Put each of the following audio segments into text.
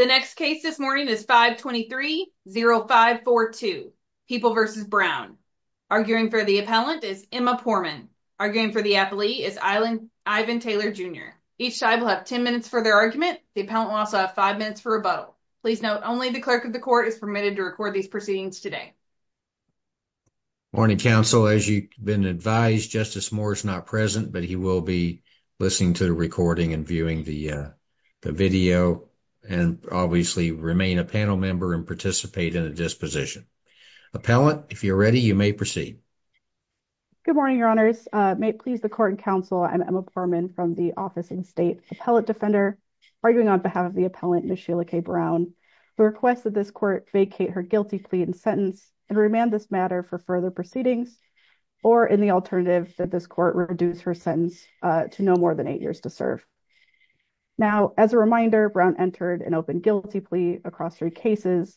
The next case this morning is 523-0542, People v. Brown. Arguing for the appellant is Emma Poorman. Arguing for the athlete is Ivan Taylor Jr. Each side will have 10 minutes for their argument. The appellant will also have 5 minutes for rebuttal. Please note only the clerk of the court is permitted to record these proceedings today. Morning counsel. As you've been advised, Justice Moore is not present, but he will be listening to the recording and viewing the video, and obviously remain a panel member and participate in a disposition. Appellant, if you're ready, you may proceed. Emma Poorman Good morning, your honors. May it please the court and counsel, I'm Emma Poorman from the Office and State Appellant Defender arguing on behalf of the appellant, Ms. Sheila K. Brown, who requests that this court vacate her guilty plea and sentence and remand this matter for further proceedings or in the alternative that this court reduce her sentence to no more than eight years to serve. Now, as a reminder, Brown entered an open guilty plea across three cases,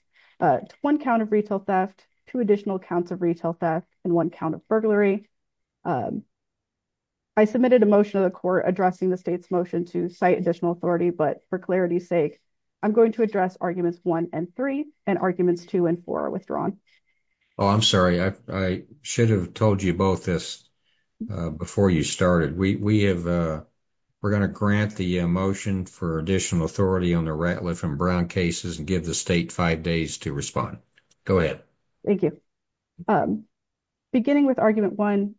one count of retail theft, two additional counts of retail theft, and one count of burglary. I submitted a motion to the court addressing the state's motion to cite additional authority, but for clarity's sake, I'm going to address arguments one and three, and arguments two and four are withdrawn. Justice Breyer Oh, I'm sorry, I should have told you both this before you started. We have, we're going to grant the motion for additional authority on the Ratliff and Brown cases and give the state five days to respond. Go ahead. Emma Poorman Thank you. Beginning with argument one,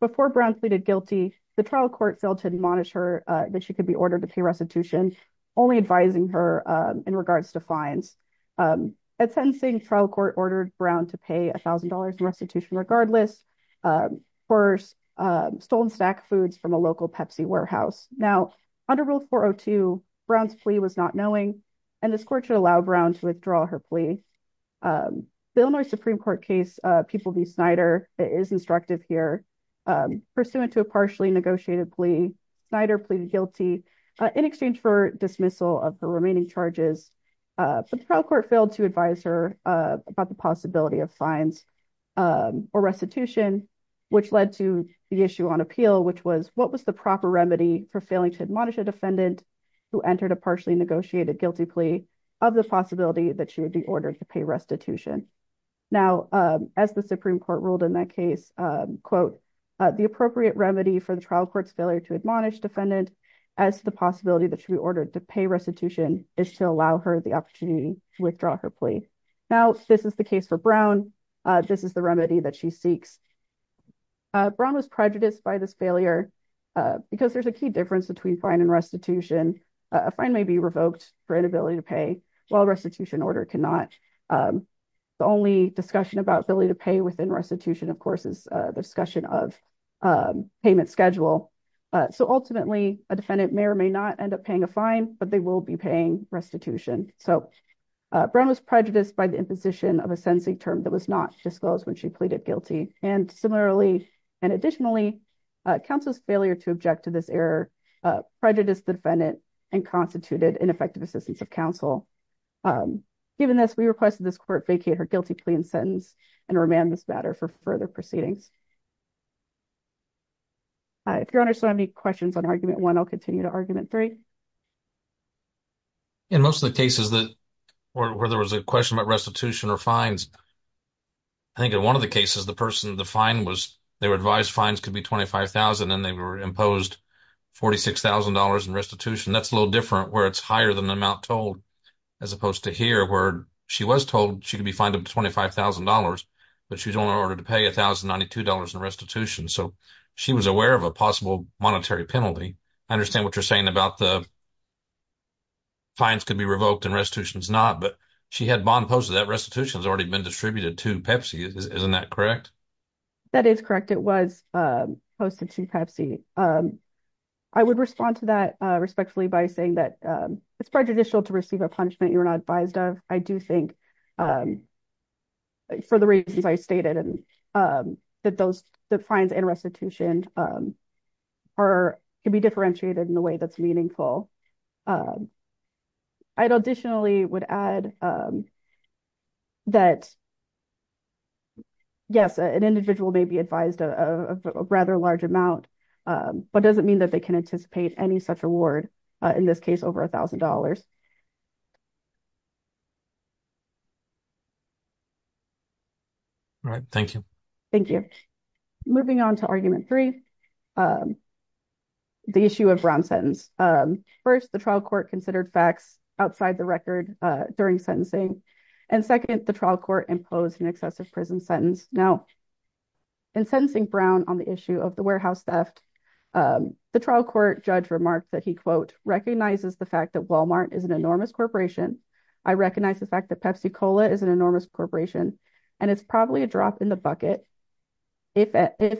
before Brown pleaded guilty, the trial court failed to admonish her that she could be ordered to pay restitution, only advising her in regards to fines. At sentencing, the trial court ordered Brown to pay $1,000 in restitution regardless, for stolen snack foods from a local Pepsi warehouse. Now under Rule 402, Brown's plea was not knowing, and this court should allow Brown to withdraw her plea. The Illinois Supreme Court case, People v. Snyder, is instructive here, pursuant to a partially negotiated plea, Snyder pleaded guilty in exchange for dismissal of the remaining charges, but the trial court failed to advise her about the possibility of fines or restitution, which led to the issue on appeal, which was, what was the proper remedy for failing to admonish a defendant who entered a partially negotiated guilty plea of the possibility that she would be ordered to pay restitution? Now as the Supreme Court ruled in that case, quote, the appropriate remedy for the trial court's failure to admonish defendant as the possibility that she would be ordered to pay restitution is to allow her the opportunity to withdraw her plea. Now this is the case for Brown. This is the remedy that she seeks. Brown was prejudiced by this failure because there's a key difference between fine and restitution. A fine may be revoked for inability to pay, while restitution order cannot. The only discussion about ability to pay within restitution, of course, is the discussion of payment schedule. So ultimately, a defendant may or may not end up paying a fine, but they will be paying restitution. So Brown was prejudiced by the imposition of a sentencing term that was not disclosed when she pleaded guilty. And similarly, and additionally, counsel's failure to object to this error prejudiced the defendant and constituted ineffective assistance of counsel. Given this, we request that this court vacate her guilty plea and sentence and remand this matter for further proceedings. If your Honor still have any questions on Argument 1, I'll continue to Argument 3. In most of the cases where there was a question about restitution or fines, I think in one of the cases the person, the fine was, they were advised fines could be $25,000 and they were imposed $46,000 in restitution. That's a little different where it's higher than the amount told, as opposed to here where she was told she could be fined up to $25,000, but she was only ordered to pay $1,092 in restitution. So she was aware of a possible monetary penalty. I understand what you're saying about the fines could be revoked and restitution's not, but she had bond posted. That restitution's already been distributed to Pepsi, isn't that correct? That is correct. It was posted to Pepsi. I would respond to that respectfully by saying that it's prejudicial to receive a punishment you're not advised of. I do think for the reasons I stated, that those, the fines and restitution are, can be differentiated in a way that's meaningful. I additionally would add that yes, an individual may be advised of a rather large amount, but that doesn't mean that they can anticipate any such reward, in this case, over a thousand dollars. All right. Thank you. Thank you. Moving on to argument three, the issue of Brown's sentence. First, the trial court considered facts outside the record during sentencing, and second, the trial court imposed an excessive prison sentence. Now, in sentencing Brown on the issue of the warehouse theft, the trial court judge remarked that he, quote, recognizes the fact that Walmart is an enormous corporation. I recognize the fact that Pepsi-Cola is an enormous corporation, and it's probably a drop in the bucket, if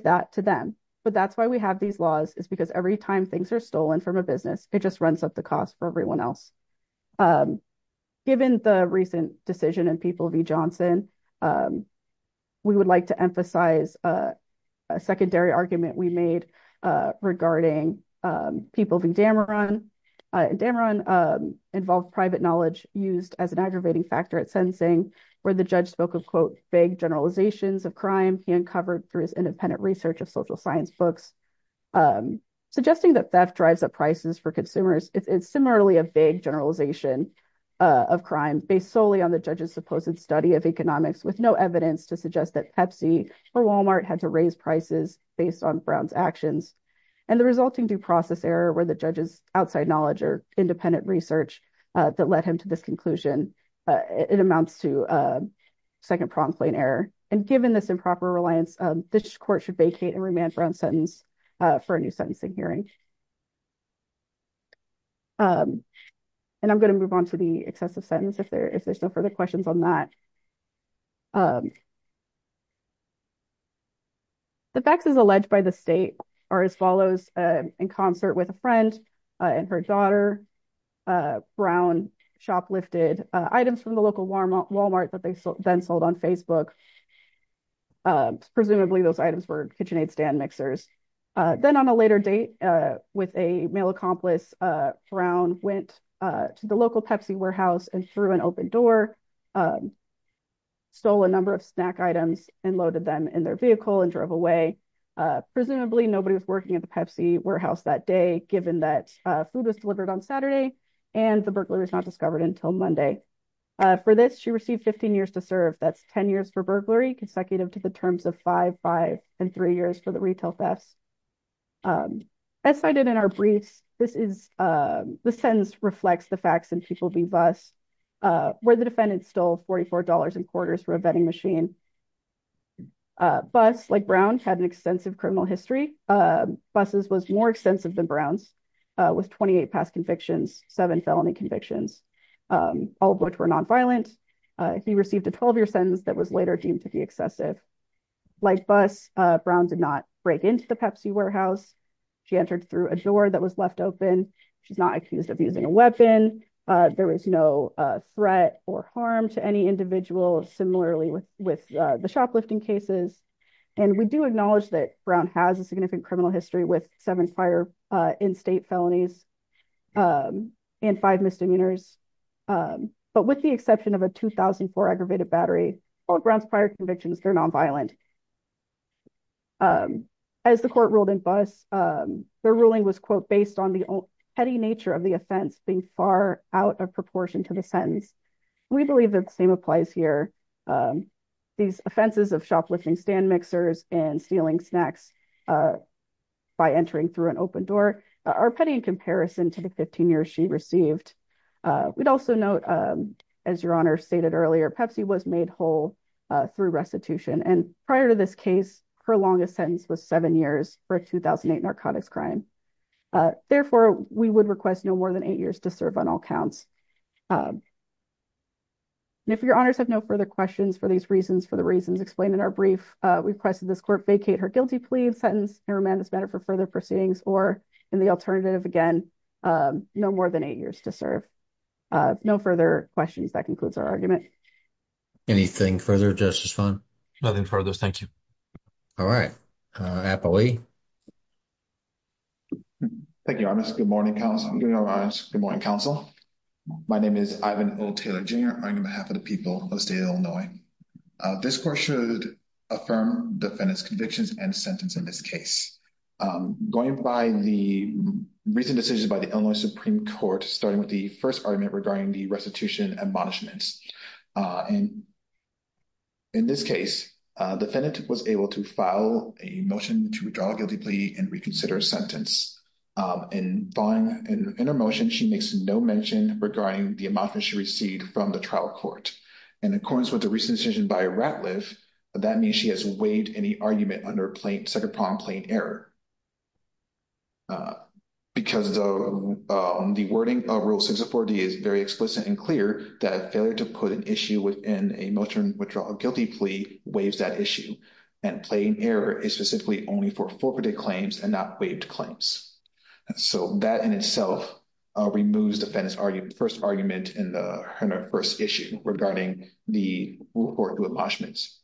that to them, but that's why we have these laws, is because every time things are stolen from a business, it just runs up the cost for everyone else. Given the recent decision in People v. Johnson, we would like to emphasize a secondary argument we made regarding People v. Dameron. Dameron involved private knowledge used as an aggravating factor at sentencing, where the judge spoke of, quote, vague generalizations of crime he uncovered through his independent research of social science books, suggesting that theft drives up prices for consumers. It's similarly a vague generalization of crime, based solely on the judge's supposed study of economics, with no evidence to suggest that Pepsi or Walmart had to raise prices based on Brown's actions. And the resulting due process error, where the judge's outside knowledge or independent research that led him to this conclusion, it amounts to second-pronged plain error. And given this improper reliance, this court should vacate and remand Brown's sentence for a new sentencing hearing. And I'm going to move on to the excessive sentence if there's no further questions on that. The facts as alleged by the state are as follows, in concert with a friend and her daughter, Brown shoplifted items from the local Walmart that they then sold on Facebook. Presumably those items were KitchenAid stand mixers. Then on a later date with a male accomplice, Brown went to the local Pepsi warehouse and threw an open door, stole a number of snack items and loaded them in their vehicle and drove away. Presumably nobody was working at the Pepsi warehouse that day, given that food was delivered on Saturday and the burglary was not discovered until Monday. For this, she received 15 years to serve. That's 10 years for burglary, consecutive to the terms of five, five and three years for the retail thefts. As cited in our briefs, this sentence reflects the facts in People v. Buss, where the defendant stole $44.25 for a vending machine. Buss, like Brown, had an extensive criminal history. Buss's was more extensive than Brown's, with 28 past convictions, seven felony convictions, all of which were nonviolent. He received a 12-year sentence that was later deemed to be excessive. Like Buss, Brown did not break into the Pepsi warehouse. She entered through a door that was left open. She's not accused of using a weapon. There was no threat or harm to any individual, similarly with the shoplifting cases. We do acknowledge that Brown has a significant criminal history with seven prior in-state felonies and five misdemeanors. But with the exception of a 2004 aggravated battery, all of Brown's prior convictions were nonviolent. As the court ruled in Buss, their ruling was, quote, based on the petty nature of the offense being far out of proportion to the sentence. We believe that the same applies here. These offenses of shoplifting stand mixers and stealing snacks by entering through an open door are petty in comparison to the 15 years she received. We'd also note, as Your Honor stated earlier, Pepsi was made whole through restitution. And prior to this case, her longest sentence was seven years for a 2008 narcotics crime. Therefore, we would request no more than eight years to serve on all counts. And if Your Honors have no further questions for these reasons, for the reasons explained in our brief, we request that this court vacate her guilty plea sentence and remand this matter for further proceedings or, in the alternative, again, no more than eight years to serve. No further questions. That concludes our argument. Anything further, Justice Funn? Nothing further. Thank you. All right. Apo Lee. Thank you, Your Honor. Good morning, counsel. My name is Ivan O. Taylor Jr. I'm on behalf of the people of the state of Illinois. This court should affirm defendant's convictions and sentence in this case. Going by the recent decision by the Illinois Supreme Court, starting with the first argument regarding the restitution admonishments. And in this case, defendant was able to file a motion to withdraw guilty plea and reconsider sentence. And in her motion, she makes no mention regarding the admonishment she received from the trial court. And in accordance with the recent decision by Ratliff, that means she has waived any argument set upon plain error. Because the wording of Rule 604D is very explicit and clear that failure to put an issue within a motion to withdraw a guilty plea waives that issue. And plain error is specifically only for forfeited claims and not waived claims. So that in itself removes defendant's first argument in the first issue regarding the rule for admonishments.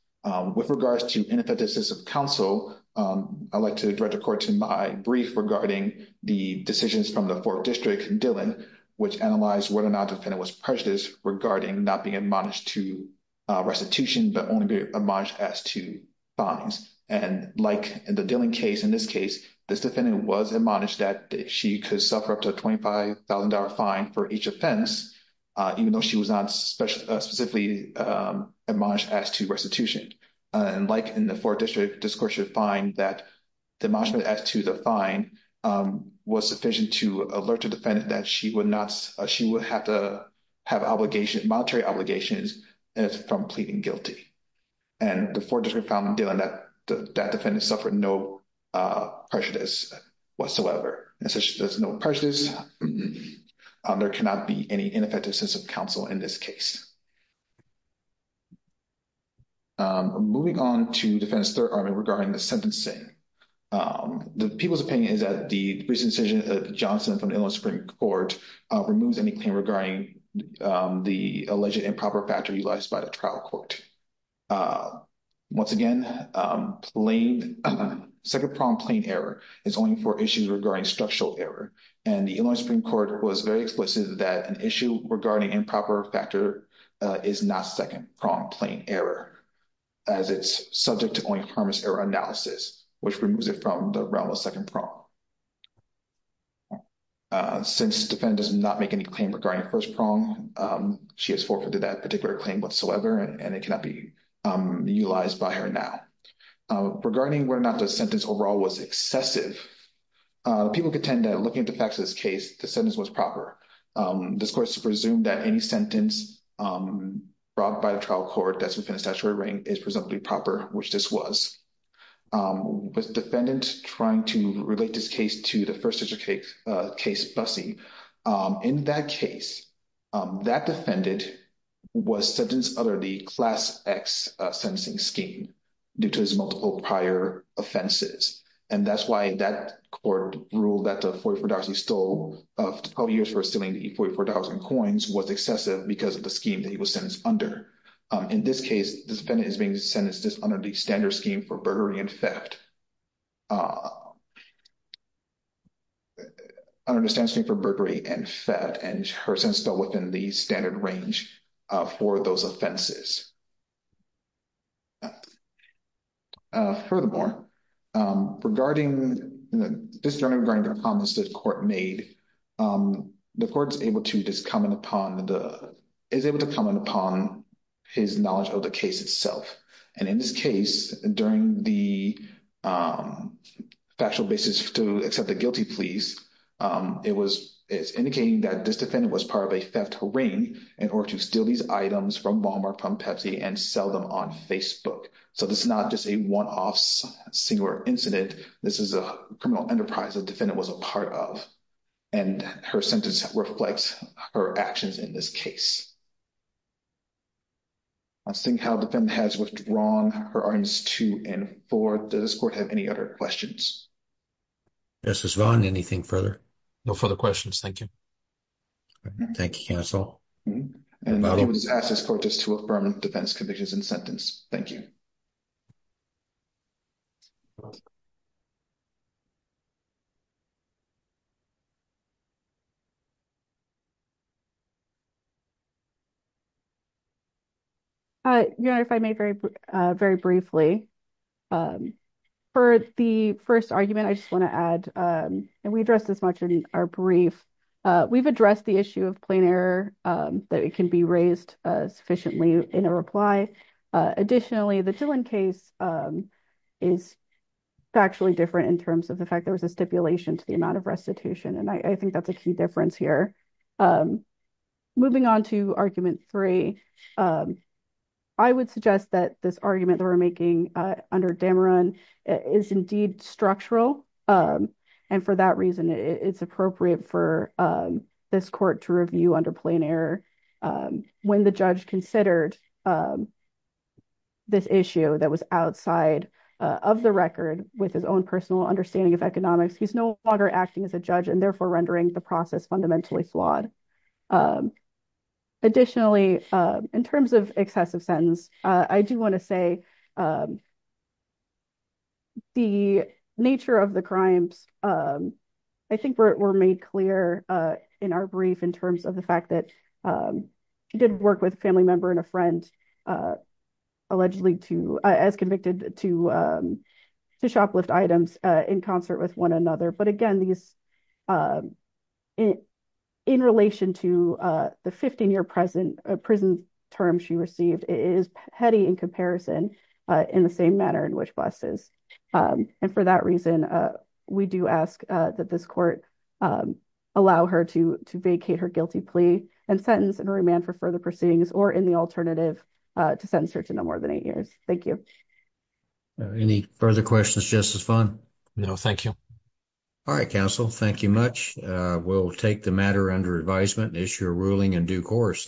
With regards to ineffectiveness of counsel, I'd like to direct the court to my brief regarding the decisions from the fourth district, Dillon, which analyzed whether or not defendant was prejudiced regarding not being admonished to restitution, but only be admonished as to fines. And like in the Dillon case, in this case, this defendant was admonished that she could suffer up to a $25,000 fine for each offense, even though she was not specifically admonished as to restitution. And like in the fourth district, this court should find that the admonishment as to the fine was sufficient to alert the defendant that she would not—she would have to have obligation—monetary obligations from pleading guilty. And the fourth district found, Dillon, that that defendant suffered no prejudice whatsoever. As such, there's no prejudice. There cannot be any ineffective sense of counsel in this case. Moving on to Defendant's third argument regarding the sentencing, the people's opinion is that the recent decision of Johnson from the Illinois Supreme Court removes any claim regarding the alleged improper factor utilized by the trial court. Once again, second-pronged plain error is only for issues regarding structural error, and the Illinois Supreme Court was very explicit that an issue regarding improper factor is not second-pronged plain error, as it's subject to only harmless error analysis, which removes it from the realm of second prong. Since the defendant does not make any claim regarding first prong, she has forfeited that particular claim whatsoever, and it cannot be utilized by her now. Regarding whether or not the sentence overall was excessive, the people contend that looking at the facts of this case, the sentence was proper. This court has presumed that any sentence brought by the trial court that's within a statutory ring is presumably proper, which this was. With the defendant trying to relate this case to the first-degree case busing, in that case, that defendant was sentenced under the Class X sentencing scheme due to his multiple prior offenses, and that's why that court ruled that the $44 he stole, 12 years for stealing the $44 in coins, was excessive because of the scheme that he was sentenced under. In this case, this defendant is being sentenced under the standard scheme for burglary and theft, under the standard scheme for burglary and theft, and her sentence fell within the standard range for those offenses. Furthermore, regarding the comments the court made, the court is able to comment upon his knowledge of the case itself, and in this case, during the factual basis to accept the guilty pleas, it's indicating that this defendant was part of a theft ring in order to steal these items from Walmart, from Pepsi, and sell them on Facebook. So, this is not just a one-off singular incident. This is a criminal enterprise the defendant was a part of, and her sentence reflects her actions in this case. I'm seeing how the defendant has withdrawn her arguments two and four. Does this court have any other questions? Justice Vaughn, anything further? No further questions. Thank you. Thank you, counsel. And I would ask this court just to affirm the defense convictions and sentence. Thank you. Your Honor, if I may very briefly. For the first argument, I just want to add, and we addressed this much in our brief, we've addressed the issue of plain error, that it can be raised sufficiently in a reply. Additionally, the Dillon case is factually different in terms of the fact there was a stipulation to the amount of restitution, and I think that's a key difference here. Moving on to argument three, I would suggest that this argument that we're making under Dameron is indeed structural, and for that reason it's appropriate for this court to review under plain error. When the judge considered this issue that was outside of the record with his own personal understanding of economics, he's no longer acting as a judge and therefore rendering the process fundamentally flawed. Additionally, in terms of excessive sentence, I do want to say the nature of the crimes, I think, were made clear in our brief in terms of the fact that he did work with a family member and a friend, allegedly as convicted to shoplift items in concert with one another. Again, in relation to the 15-year prison term she received, it is petty in comparison in the same manner in which Buss is. For that reason, we do ask that this court allow her to vacate her guilty plea and sentence and remand for further proceedings, or in the alternative, to sentence her to no more than eight years. Thank you. Any further questions, Justice Funn? No, thank you. All right, counsel. Thank you much. We'll take the matter under advisement and issue a ruling in due course.